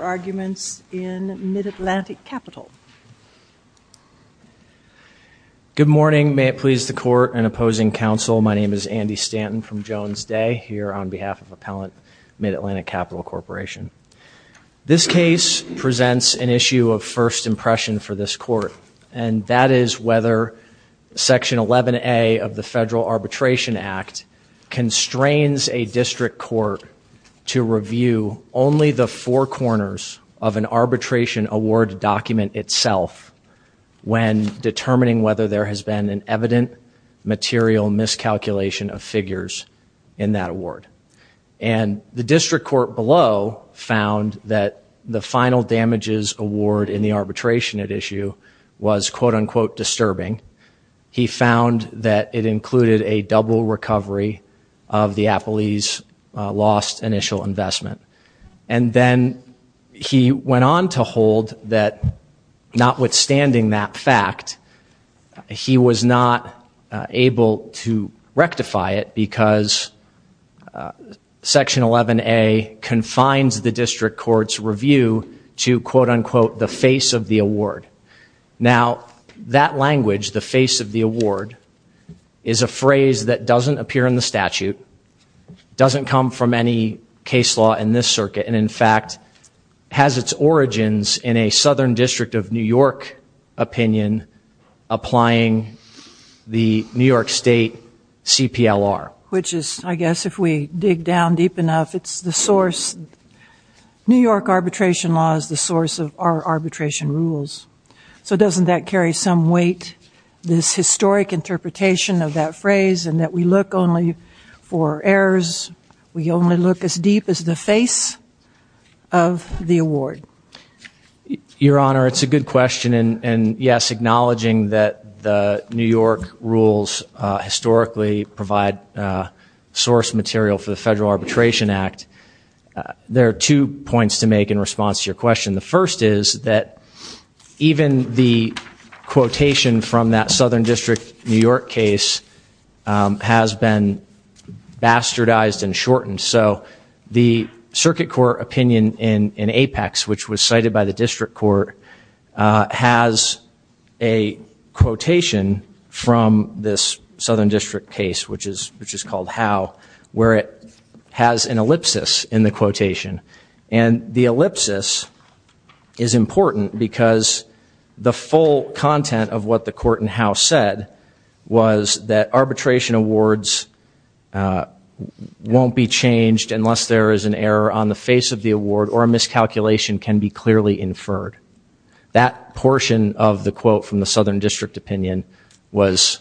arguments in Mid-Atlantic Capital. Good morning may it please the court and opposing counsel my name is Andy Stanton from Jones Day here on behalf of Appellant Mid-Atlantic Capital Corporation. This case presents an issue of first impression for this court and that is whether section 11a of the of an arbitration award document itself when determining whether there has been an evident material miscalculation of figures in that award and the district court below found that the final damages award in the arbitration at issue was quote-unquote disturbing. He found that it included a double recovery of the he went on to hold that notwithstanding that fact he was not able to rectify it because section 11a confines the district court's review to quote-unquote the face of the award. Now that language the face of the award is a phrase that doesn't appear in the statute, doesn't come from any case law in this circuit and in fact has its origins in a Southern District of New York opinion applying the New York State CPLR. Which is I guess if we dig down deep enough it's the source New York arbitration law is the source of our arbitration rules so doesn't that carry some weight this historic interpretation of that phrase and that we look only for errors we only look as deep as the face of the award? Your Honor it's a good question and and yes acknowledging that the New York rules historically provide source material for the Federal Arbitration Act there are two points to make in response to your question. The first is that even the quotation from that Southern District New York case has been bastardized and shortened so the circuit court opinion in in apex which was cited by the district court has a quotation from this Southern District case which is which is called how where it has an ellipsis in the quotation and the ellipsis is important because the full content of what the court and house said was that arbitration awards won't be changed unless there is an error on the face of the award or a miscalculation can be clearly inferred that portion of the quote from the Southern District opinion was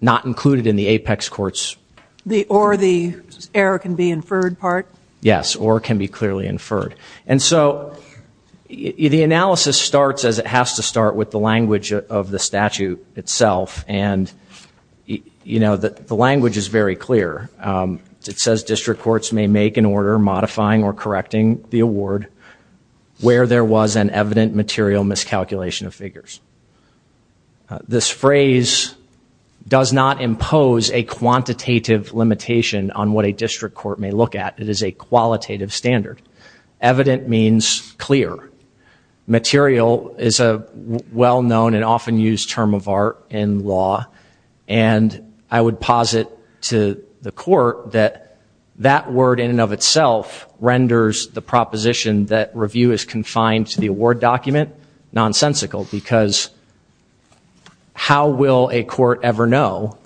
not included in the apex courts. The or the error can be inferred part? Yes or can be clearly inferred and so the analysis starts as it has to start with the language of the statute itself and you know that the language is very clear it says district courts may make an order modifying or correcting the award where there was an evident material miscalculation of figures. This phrase does not impose a quantitative limitation on what a district court may look at it is a qualitative standard. Evident means clear. Material is a well known and often used term of art in law and I would posit to the court that that word in and of itself renders the proposition that review is confined to the award document nonsensical because how will a court ever know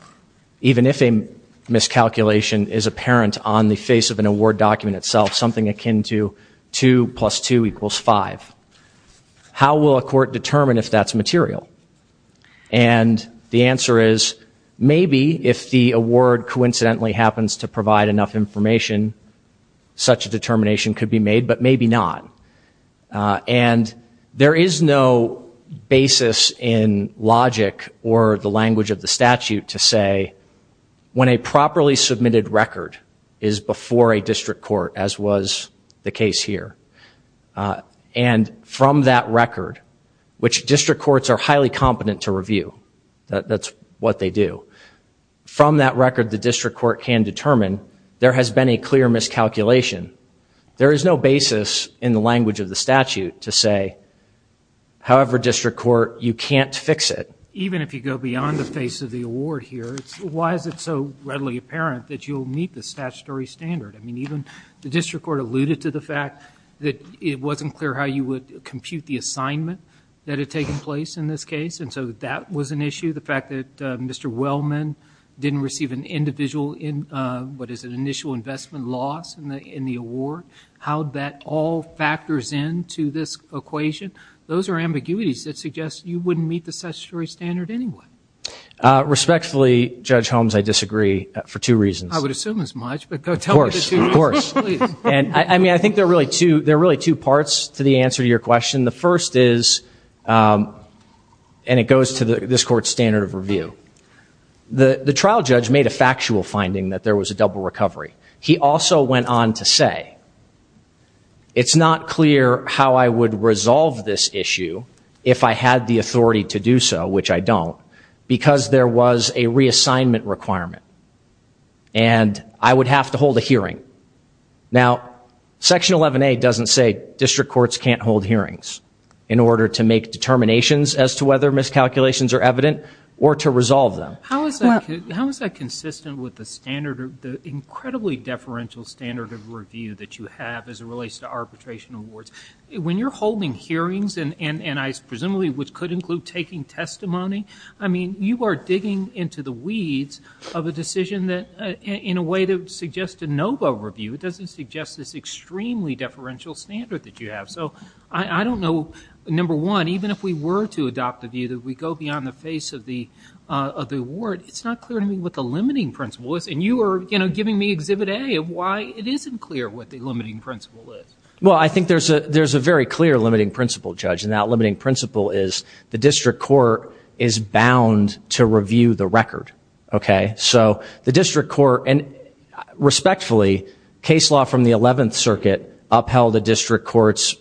even if a miscalculation is apparent on the face of an award document itself something akin to 2 plus 2 equals 5. How will a court determine if that's material and the answer is maybe if the award coincidentally happens to provide enough information such a determination could be made but maybe not and there is no basis in logic or the language of the statute to say when a properly submitted record is before a district court as was the case here and from that record which district courts are highly competent to review that that's what they do from that record the district court can determine there has been a clear miscalculation there is no basis in the language of the statute to say however district court you can't fix it even if you go beyond the face of the award here why is it so readily apparent that you'll meet the statutory standard I mean even the district court alluded to the fact that it wasn't clear how you would compute the assignment that had taken place in this case and so that was an issue the fact that mr. Wellman didn't receive an individual in what is an initial investment loss in the in the award how that all factors in to this equation those are ambiguities that suggest you wouldn't meet the statutory standard anyway respectfully judge Holmes I disagree for two reasons I would assume as much but of course and I mean I think they're really two they're really two parts to the answer to your question the first is and it goes to the this court standard of review the the trial judge made a factual finding that there was a double recovery he also went on to say it's not clear how I would resolve this issue if I had the authority to do so which I don't because there was a reassignment requirement and I would have to hold a hearing now section 11a doesn't say district courts can't hold hearings in order to make determinations as to whether miscalculations are evident or to resolve them how is that how is that consistent with the standard of the incredibly deferential standard of review that you have as it relates to hearings and and and I presumably which could include taking testimony I mean you are digging into the weeds of a decision that in a way to suggest a NOVA review it doesn't suggest this extremely deferential standard that you have so I I don't know number one even if we were to adopt the view that we go beyond the face of the of the award it's not clear to me what the limiting principle is and you are you know giving me exhibit a of why it isn't clear what well I think there's a there's a very clear limiting principle judge and that limiting principle is the district court is bound to review the record okay so the district court and respectfully case law from the 11th circuit upheld a district courts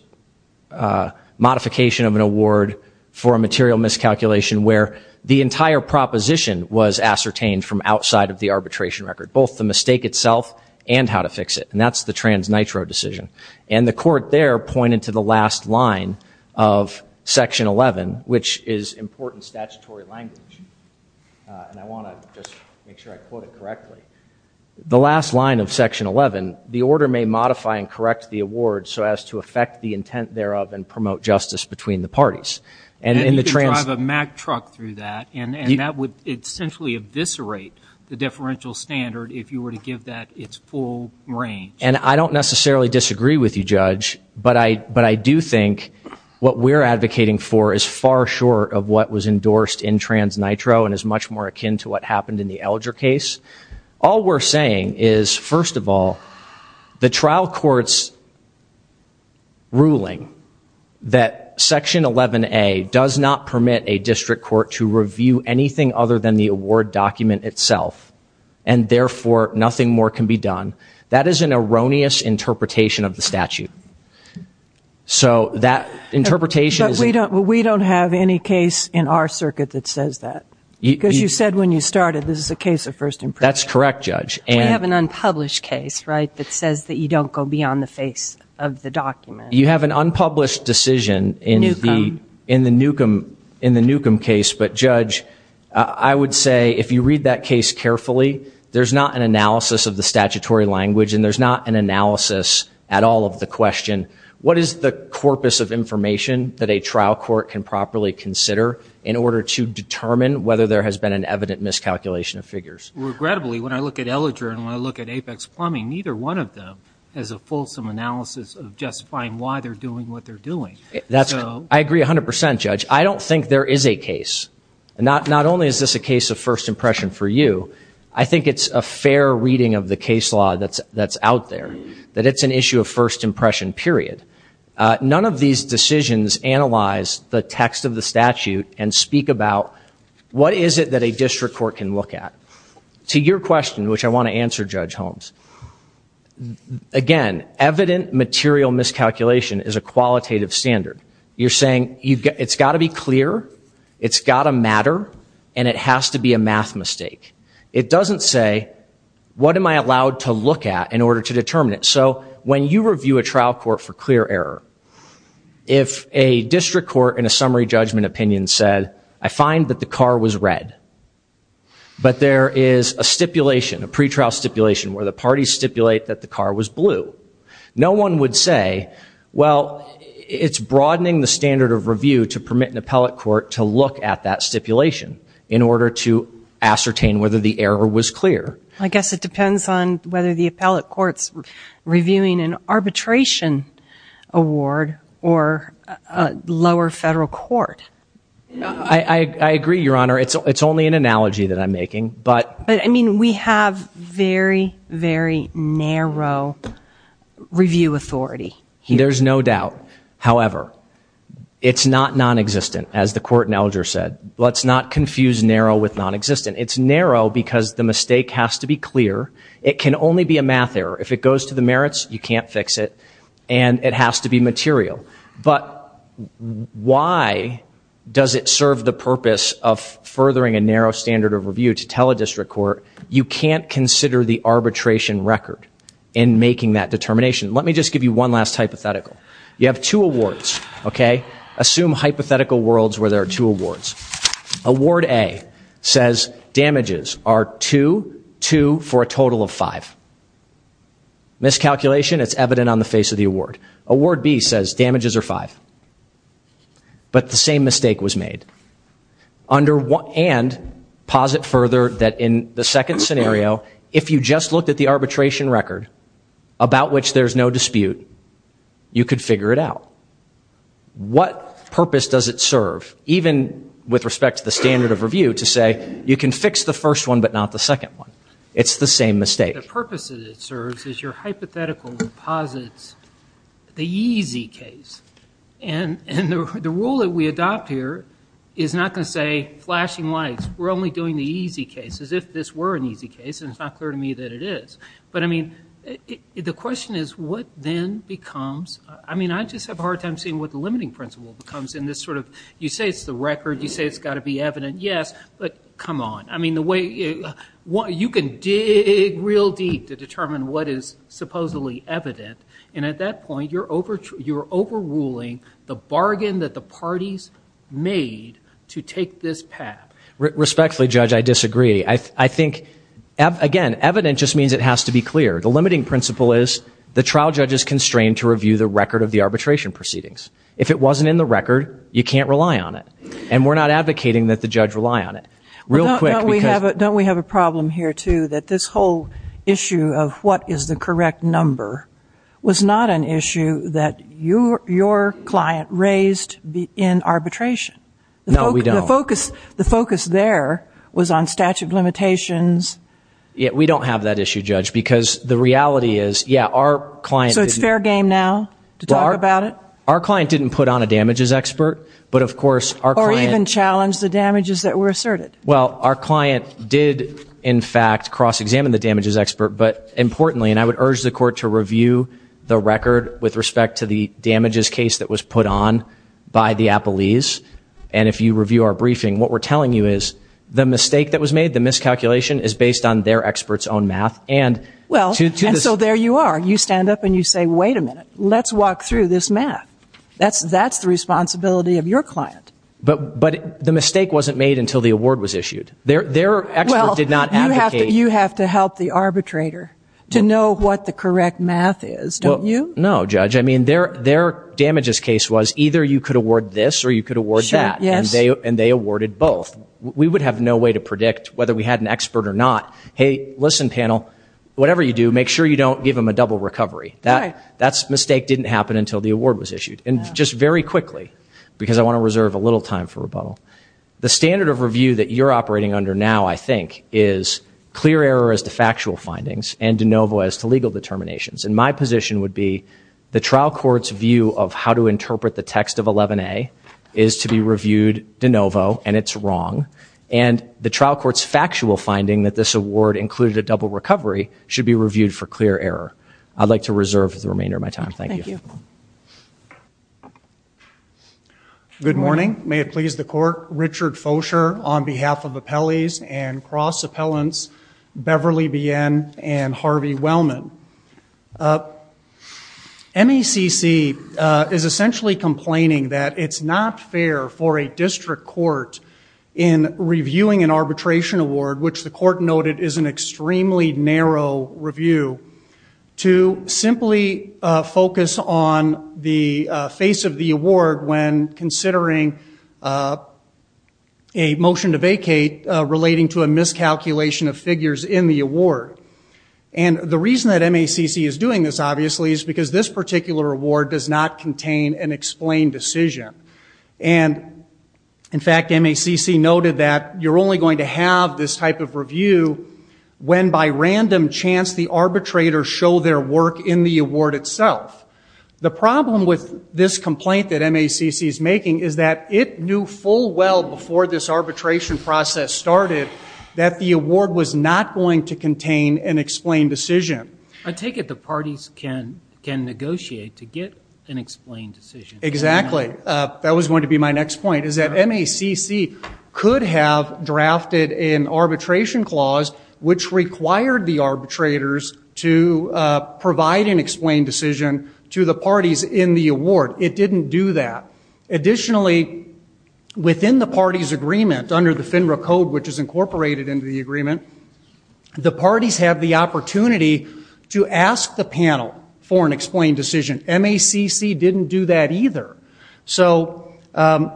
modification of an award for a material miscalculation where the entire proposition was ascertained from outside of the arbitration record both the mistake itself and how to fix it and that's the trans nitro decision and the court there pointed to the last line of section 11 which is important statutory language and I want to just make sure I quote it correctly the last line of section 11 the order may modify and correct the award so as to affect the intent thereof and promote justice between the parties and in the train of a Mack truck through that and and that would essentially eviscerate the full brain and I don't necessarily disagree with you judge but I but I do think what we're advocating for is far short of what was endorsed in trans nitro and is much more akin to what happened in the elder case all we're saying is first of all the trial courts ruling that section 11 a does not permit a district court to review anything other than the award document itself and therefore nothing more can be done that is an erroneous interpretation of the statute so that interpretation we don't we don't have any case in our circuit that says that you said when you started this is a case of first and that's correct judge and have an unpublished case right that says that you don't go beyond the face of the document you have an unpublished decision in the in the newcombe in the newcombe case but judge I would say if you read that case carefully there's not an analysis of the statutory language and there's not an analysis at all of the question what is the corpus of information that a trial court can properly consider in order to determine whether there has been an evident miscalculation of figures regrettably when I look at elliger and when I look at apex plumbing neither one of them as a fulsome analysis of justifying why they're doing what they're doing that's I agree a hundred percent judge I don't think there is a case not not only is this a first impression for you I think it's a fair reading of the case law that's that's out there that it's an issue of first impression period none of these decisions analyze the text of the statute and speak about what is it that a district court can look at to your question which I want to answer judge Holmes again evident material miscalculation is a qualitative standard you're saying you've got it's got to be clear it's got a matter and it has to be a math mistake it doesn't say what am I allowed to look at in order to determine it so when you review a trial court for clear error if a district court in a summary judgment opinion said I find that the car was red but there is a stipulation a pretrial stipulation where the parties stipulate that the car was no one would say well it's broadening the standard of review to permit an appellate court to look at that stipulation in order to ascertain whether the error was clear I guess it depends on whether the appellate courts reviewing an arbitration award or a lower federal court I agree your honor it's it's only an analogy that I'm making but I mean we have very very narrow review authority there's no doubt however it's not non-existent as the court in elder said let's not confuse narrow with non-existent it's narrow because the mistake has to be clear it can only be a math error if it goes to the merits you can't fix it and it has to be material but why does it serve the purpose of furthering a narrow standard of review to tell a district court you can't consider the arbitration record in making that determination let me just give you one last hypothetical you have two awards okay assume hypothetical worlds where there are two awards award a says damages are two two for a total of five miscalculation it's evident on the face of the award award B says damages are five but the same mistake was made under and posit further that in the second scenario if you just looked at the arbitration record about which there's no dispute you could figure it out what purpose does it serve even with respect to the standard of review to say you can fix the first one but not the second one it's the same mistake purposes it serves is your hypothetical deposits the easy case and and the rule that we adopt here is not going to say flashing lights we're only doing the easy cases if this were an easy case and it's not clear to me that it is but I mean the question is what then becomes I mean I just have a hard time seeing what the limiting principle becomes in this sort of you say it's the record you say it's got to be evident yes but come on I mean the way you want you can dig real deep to determine what is supposedly evident and at that point you're over you're ruling the bargain that the parties made to take this path respectfully judge I disagree I think again evident just means it has to be clear the limiting principle is the trial judge is constrained to review the record of the arbitration proceedings if it wasn't in the record you can't rely on it and we're not advocating that the judge rely on it real quick we have it don't we have a problem here too that this whole issue of what is the correct number was not an issue that your client raised in arbitration no we don't focus the focus there was on statute of limitations yeah we don't have that issue judge because the reality is yeah our client so it's fair game now to talk about it our client didn't put on a damages expert but of course our client and challenge the damages that were asserted well our client did in fact cross-examine the damages expert but importantly and I would urge the court to review the damages case that was put on by the appellees and if you review our briefing what we're telling you is the mistake that was made the miscalculation is based on their experts own math and well so there you are you stand up and you say wait a minute let's walk through this math that's that's the responsibility of your client but but the mistake wasn't made until the award was issued there there did not have you have to help the arbitrator to know what the correct math is don't you know judge I mean they're they're damages case was either you could award this or you could award that yes and they awarded both we would have no way to predict whether we had an expert or not hey listen panel whatever you do make sure you don't give him a double recovery that that's mistake didn't happen until the award was issued and just very quickly because I want to reserve a little time for rebuttal the standard of review that you're operating under now I think is clear error as to my position would be the trial courts view of how to interpret the text of 11a is to be reviewed de novo and it's wrong and the trial courts factual finding that this award included a double recovery should be reviewed for clear error I'd like to reserve the remainder of my time thank you good morning may it please the court Richard Fosher on behalf of the Pelley's and cross appellants Beverly BN and Harvey Wellman MECC is essentially complaining that it's not fair for a district court in reviewing an arbitration award which the court noted is an extremely narrow review to simply focus on the face of the award when considering a motion to vacate relating to a miscalculation of figures in the award and the reason that MACC is doing this obviously is because this particular award does not contain an explained decision and in fact MACC noted that you're only going to have this type of review when by random chance the arbitrator show their work in the award itself the problem with this complaint that MACC is making is that it knew full well before this arbitration process started that the award was not going to contain an explained decision I take it the parties can can negotiate to get an explained decision exactly that was going to be my next point is that MACC could have drafted an arbitration clause which required the arbitrators to provide an in the award it didn't do that additionally within the parties agreement under the FINRA code which is incorporated into the agreement the parties have the opportunity to ask the panel for an explained decision MACC didn't do that either so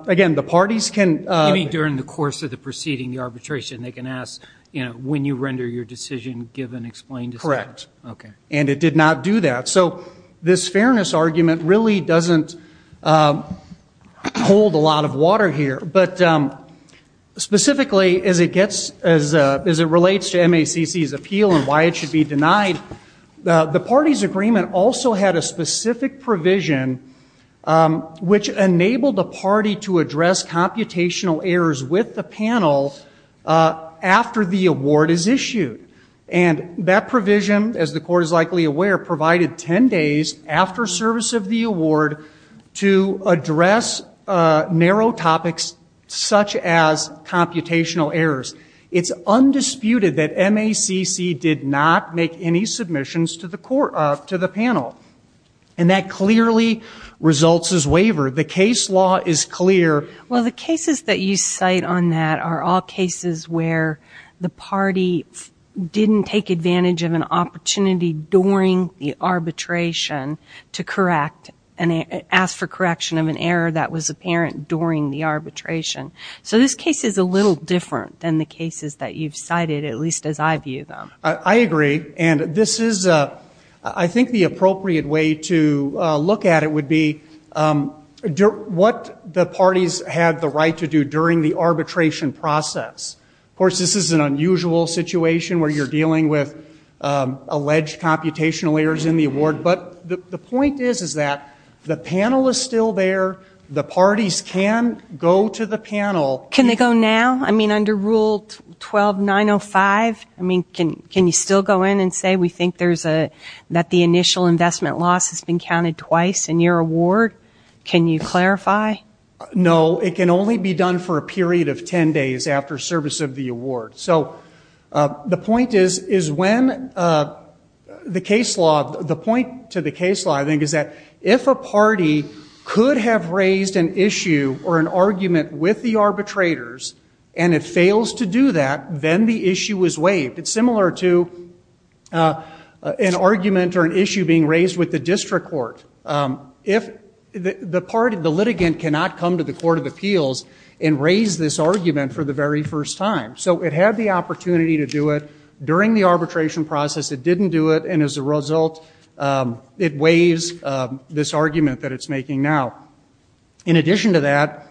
again the parties can during the course of the proceeding the arbitration they can ask you know when you render your decision given explained correct okay and it did not do that so this fairness argument really doesn't hold a lot of water here but specifically as it gets as it relates to MACC's appeal and why it should be denied the party's agreement also had a specific provision which enabled a party to address computational errors with the panel after the award is issued and that provision as the court is likely aware provided 10 days after service of the award to address narrow topics such as computational errors it's undisputed that MACC did not make any submissions to the court up to the panel and that clearly results as waiver the case law is clear well the cases that you cite on that are all cases where the during the arbitration to correct and ask for correction of an error that was apparent during the arbitration so this case is a little different than the cases that you've cited at least as I view them I agree and this is a I think the appropriate way to look at it would be what the parties had the right to do during the arbitration process of course this is an unusual situation where you're dealing with alleged computational errors in the award but the point is is that the panel is still there the parties can go to the panel can they go now I mean under rule 12 905 I mean can can you still go in and say we think there's a that the initial investment loss has been counted twice in your award can you clarify no it can only be done for a period of 10 days after service of the award so the point is is when the case law the point to the case law I think is that if a party could have raised an issue or an argument with the arbitrators and it fails to do that then the issue was waived it's similar to an argument or an issue being raised with the district court if the part of the litigant cannot come to the Court of Appeals and raise this argument for the very first time so it had the opportunity to do it during the arbitration process it didn't do it and as a result it weighs this argument that it's making now in addition to that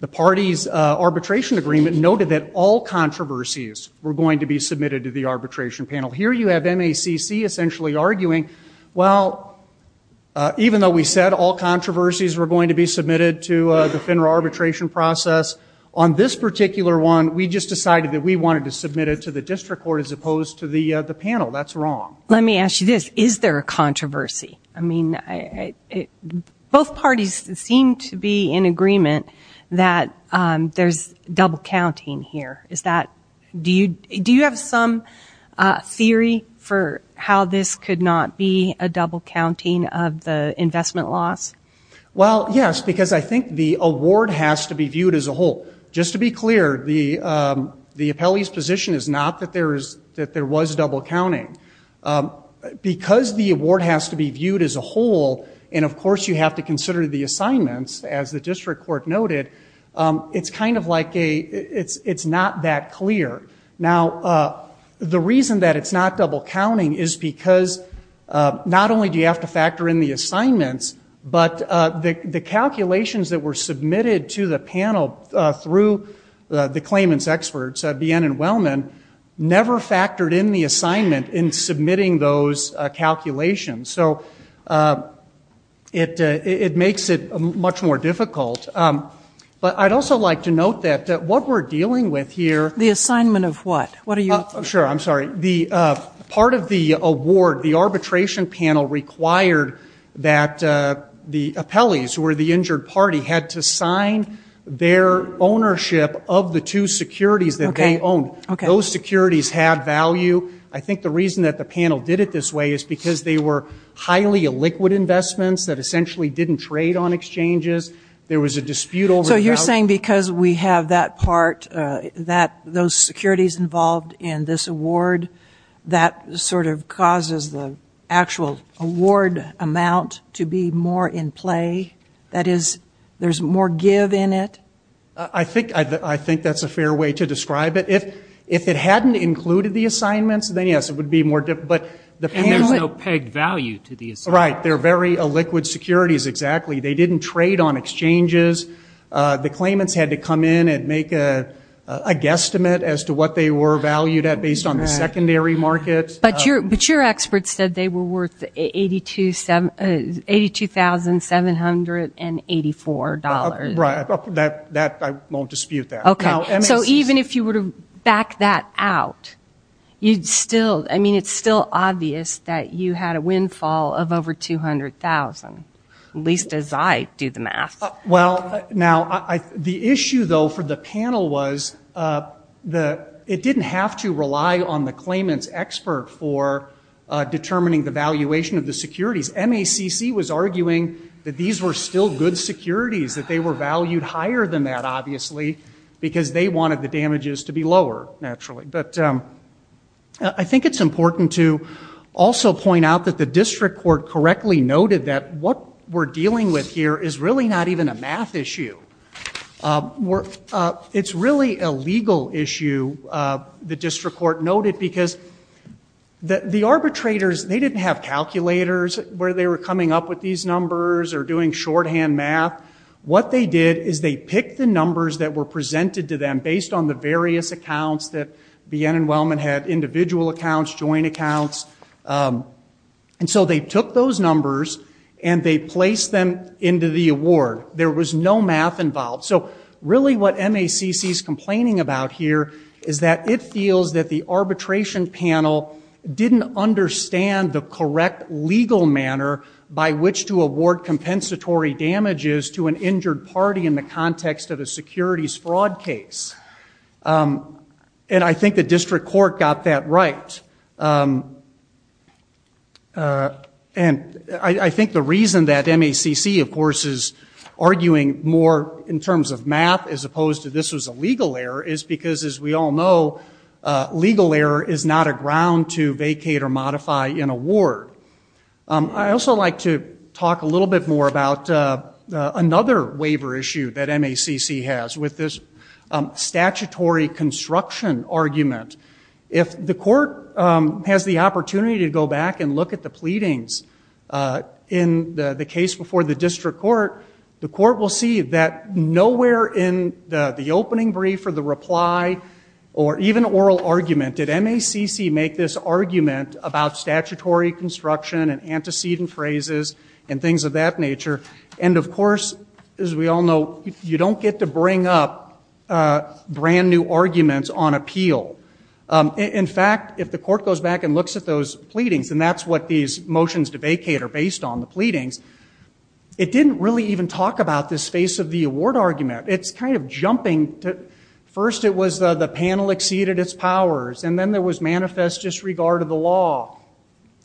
the party's arbitration agreement noted that all controversies were going to be submitted to the arbitration panel here you have MACC essentially arguing well even though we said all controversies were going to be submitted to the FINRA arbitration process on this particular one we just decided that we wanted to submit it to the district court as opposed to the the panel that's wrong let me ask you this is there a controversy I mean both parties seem to be in agreement that there's double counting here is that do you do you have some theory for how this could not be a double counting of the investment loss well yes because I think the award has to be viewed as a whole just to be clear the the appellee's position is not that there is that there was double counting because the award has to be viewed as a whole and of course you have to consider the assignments as the district court noted it's kind of like a it's it's not that clear now the reason that it's not double counting is because not only do submitted to the panel through the claimants experts at BN and Wellman never factored in the assignment in submitting those calculations so it it makes it much more difficult but I'd also like to note that what we're dealing with here the assignment of what what are you sure I'm sorry the part of the award the arbitration panel required that the appellees who were the injured party had to sign their ownership of the two securities that they own okay those securities have value I think the reason that the panel did it this way is because they were highly illiquid investments that essentially didn't trade on exchanges there was a dispute over so you're saying because we have that part that those securities involved in this award that sort of causes the actual award amount to be more in play that is there's more give in it I think I think that's a fair way to describe it if if it hadn't included the assignments then yes it would be more difficult but there's no pegged value to the right they're very illiquid securities exactly they didn't trade on exchanges the claimants had to come in and make a guesstimate as to what they were valued at based on the secondary markets but your mature experts said they were worth 82 782 thousand seven hundred and eighty four dollars right that that I won't dispute that okay so even if you were to back that out you'd still I mean it's still obvious that you had a windfall of over two hundred thousand least as I do the math well now I the issue though for the panel was the it didn't have to rely on the claimants expert for determining the valuation of the securities MACC was arguing that these were still good securities that they were valued higher than that obviously because they wanted the damages to be lower naturally but I think it's important to also point out that the district court correctly noted that what we're dealing with here is really not even a math issue it's really a legal issue the district court noted because that the arbitrators they didn't have calculators where they were coming up with these numbers or doing shorthand math what they did is they picked the numbers that were presented to them based on the various accounts that BN and Wellman had individual accounts joint accounts and so they took those numbers and they placed them into the award there was no math involved so really what MACC is complaining about here is that it feels that the arbitration panel didn't understand the correct legal manner by which to award compensatory damages to an injured party in the context of a securities fraud case and I think the district court got that right and I think the reason that MACC of course is arguing more in terms of math as opposed to this was a legal error is because as we all know legal error is not a ground to vacate or modify an award I also like to talk a little bit more about another waiver issue that MACC has with this statutory construction argument if the court has the opportunity to go back and look at the pleadings in the case before the district court the court will see that nowhere in the the opening brief or the reply or even oral argument did MACC make this argument about statutory construction and antecedent phrases and things of that nature and of course as we all know you don't get to bring up brand new arguments on appeal in fact if the court goes back and looks at those pleadings and that's what these motions to vacate are based on the pleadings it didn't really even talk about this face of the award argument it's kind of jumping to first it was the panel exceeded its powers and then there was manifest disregard of the law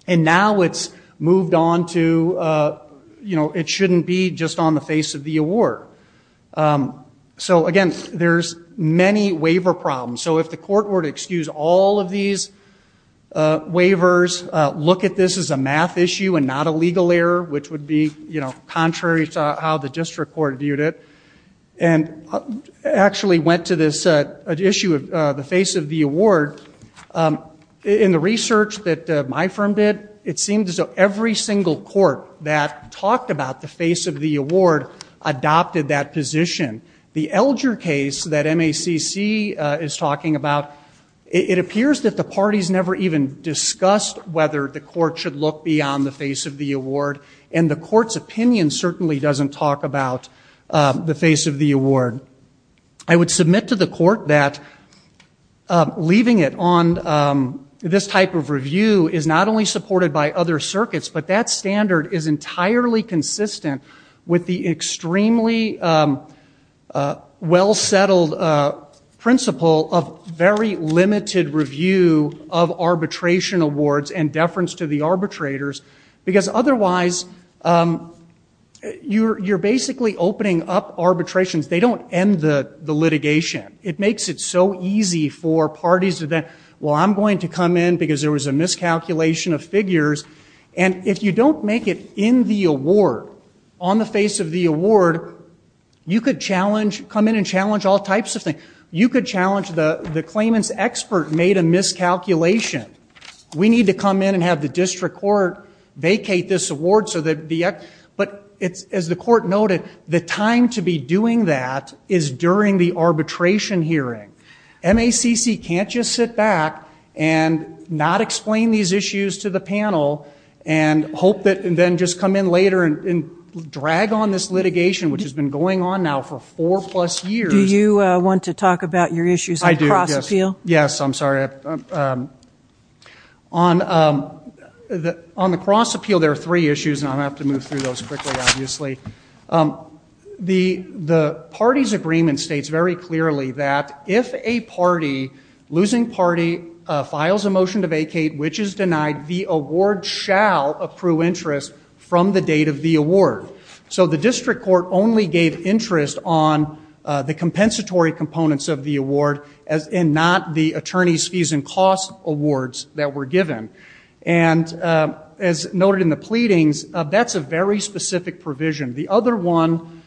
and now it's moved on to you know it shouldn't be just on the face of the award so again there's many waiver problems so if the court were to excuse all of these waivers look at this as a math issue and not a legal error which would be you know contrary to how the district court viewed it and actually went to this issue of the face of the award in the research that my firm did it seemed as though every single court that talked about the face of the award adopted that position the Elger case that MACC is talking about it appears that the party's never even discussed whether the court should look beyond the face of the award and the court's opinion certainly doesn't talk about the face of the award I would submit to the court that leaving it on this type of review is not only supported by other circuits but that standard is entirely consistent with the extremely well-settled principle of very limited review of arbitration awards and deference to the arbitrators because otherwise you're basically opening up arbitrations they don't end the the litigation it makes it so easy for parties to that well I'm going to come in because there was a miscalculation of figures and if you don't make it in the award on the face of the award you could challenge come in and challenge all types of things you could challenge the the claimants expert made a miscalculation we need to come in and have the district court vacate this award so that the act but it's as the court noted the time to be doing that is during the arbitration hearing MACC can't just sit back and not explain these issues to the panel and hope that and then just come in later and drag on this litigation which has been going on now for four plus years you want to talk about your issues I do feel yes I'm sorry on the on the cross appeal there are three issues and I have to move those quickly obviously the the party's agreement states very clearly that if a party losing party files a motion to vacate which is denied the award shall approve interest from the date of the award so the district court only gave interest on the compensatory components of the award as in not the attorneys fees and costs awards that were given and as noted in the pleadings that's a very specific provision the other one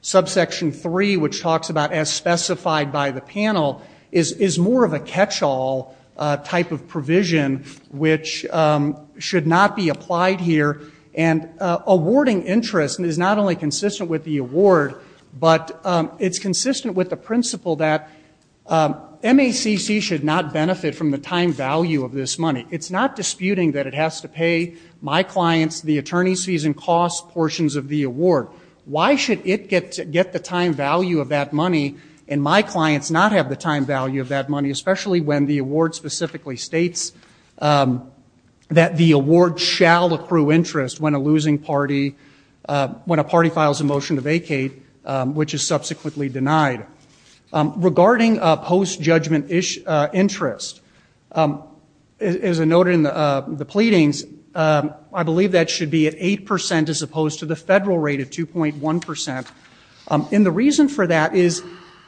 subsection 3 which talks about as specified by the panel is is more of a catch-all type of provision which should not be applied here and awarding interest is not only consistent with the award but it's consistent with the principle that MACC should not benefit from the time value of this money it's not disputing that it has to pay my the attorneys fees and costs portions of the award why should it get to get the time value of that money and my clients not have the time value of that money especially when the award specifically states that the award shall accrue interest when a losing party when a party files a motion to vacate which is subsequently denied regarding a post judgment ish interest is a note in the I believe that should be at 8% as opposed to the federal rate of 2.1% in the reason for that is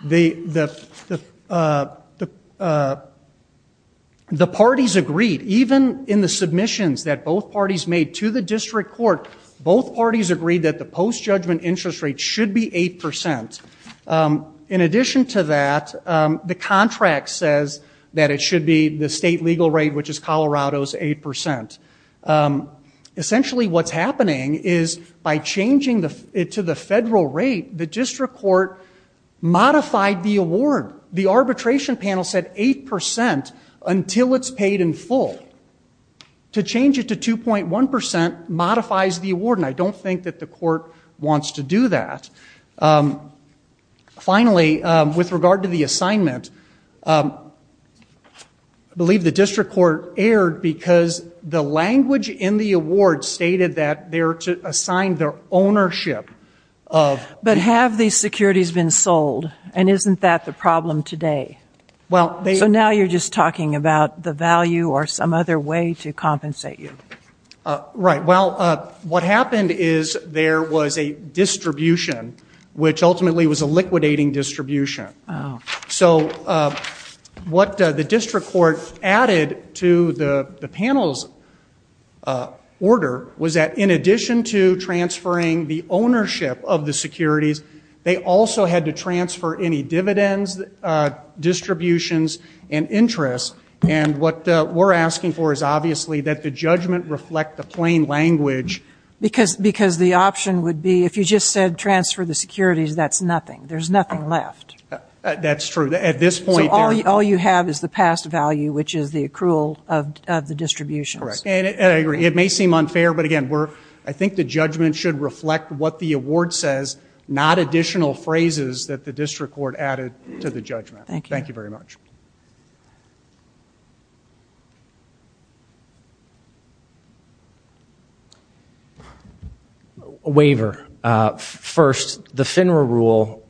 the the the parties agreed even in the submissions that both parties made to the district court both parties agreed that the post judgment interest rate should be 8% in addition to that the contract says that it should be the state legal rate which is Colorado's 8% essentially what's happening is by changing the it to the federal rate the district court modified the award the arbitration panel said 8% until it's paid in full to change it to 2.1% modifies the award and I don't think that the court wants to do that finally with regard to the assignment I believe the district court erred because the language in the award stated that there to assign their ownership of but have these securities been sold and isn't that the problem today well so now you're just talking about the value or some other way to compensate you right well what happened is there was a distribution which ultimately was a liquidating distribution so what the district court added to the panels order was that in addition to transferring the ownership of the securities they also had to transfer any dividends distributions and interest and what we're asking for is obviously that the judgment reflect the plain language because because the option would be if you just said transfer the securities that's nothing there's nothing left that's true at this point all you have is the past value which is the accrual of the distribution and it may seem unfair but again we're I think the judgment should reflect what the award says not additional phrases that the district court added to the judgment thank you very much waiver first the FINRA rule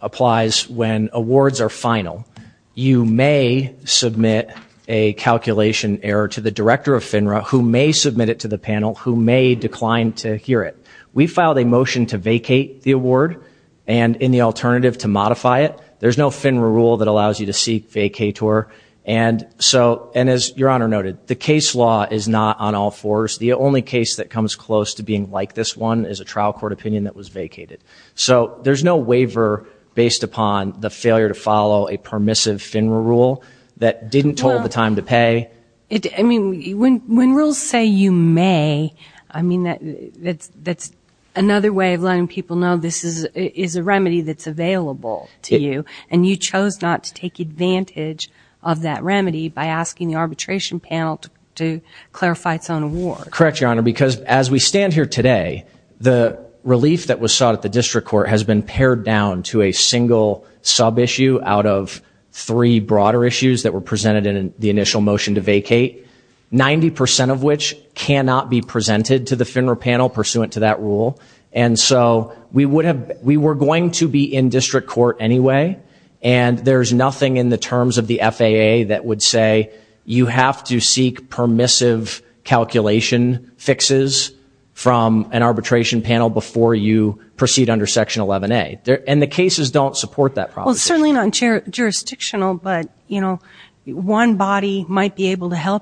applies when awards are final you may submit a calculation error to the director of FINRA who may submit it to the panel who may decline to hear it we filed a motion to vacate the award and in the rule that allows you to seek vacator and so and as your honor noted the case law is not on all fours the only case that comes close to being like this one is a trial court opinion that was vacated so there's no waiver based upon the failure to follow a permissive FINRA rule that didn't hold the time to pay it I mean when when rules say you may I mean that that's that's another way of available to you and you chose not to take advantage of that remedy by asking the arbitration panel to clarify its own war correct your honor because as we stand here today the relief that was sought at the district court has been pared down to a single sub issue out of three broader issues that were presented in the initial motion to vacate 90% of which cannot be presented to the FINRA panel pursuant to that rule and so we would have we were going to be in district court anyway and there's nothing in the terms of the FAA that would say you have to seek permissive calculation fixes from an arbitration panel before you proceed under section 11a there and the cases don't support that probably not sure jurisdictional but you know one body might be able to had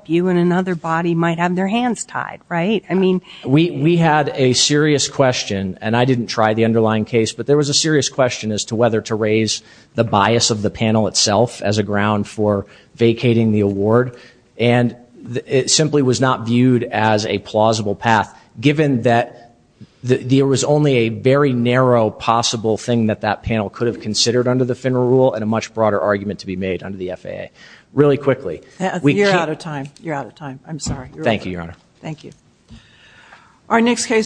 a serious question and I didn't try the underlying case but there was a serious question as to whether to raise the bias of the panel itself as a ground for vacating the award and it simply was not viewed as a plausible path given that there was only a very narrow possible thing that that panel could have considered under the FINRA rule and a much broader argument to be made under the FAA really quickly we're out of time you're out of time I'm sorry thank you your honor thank you our next case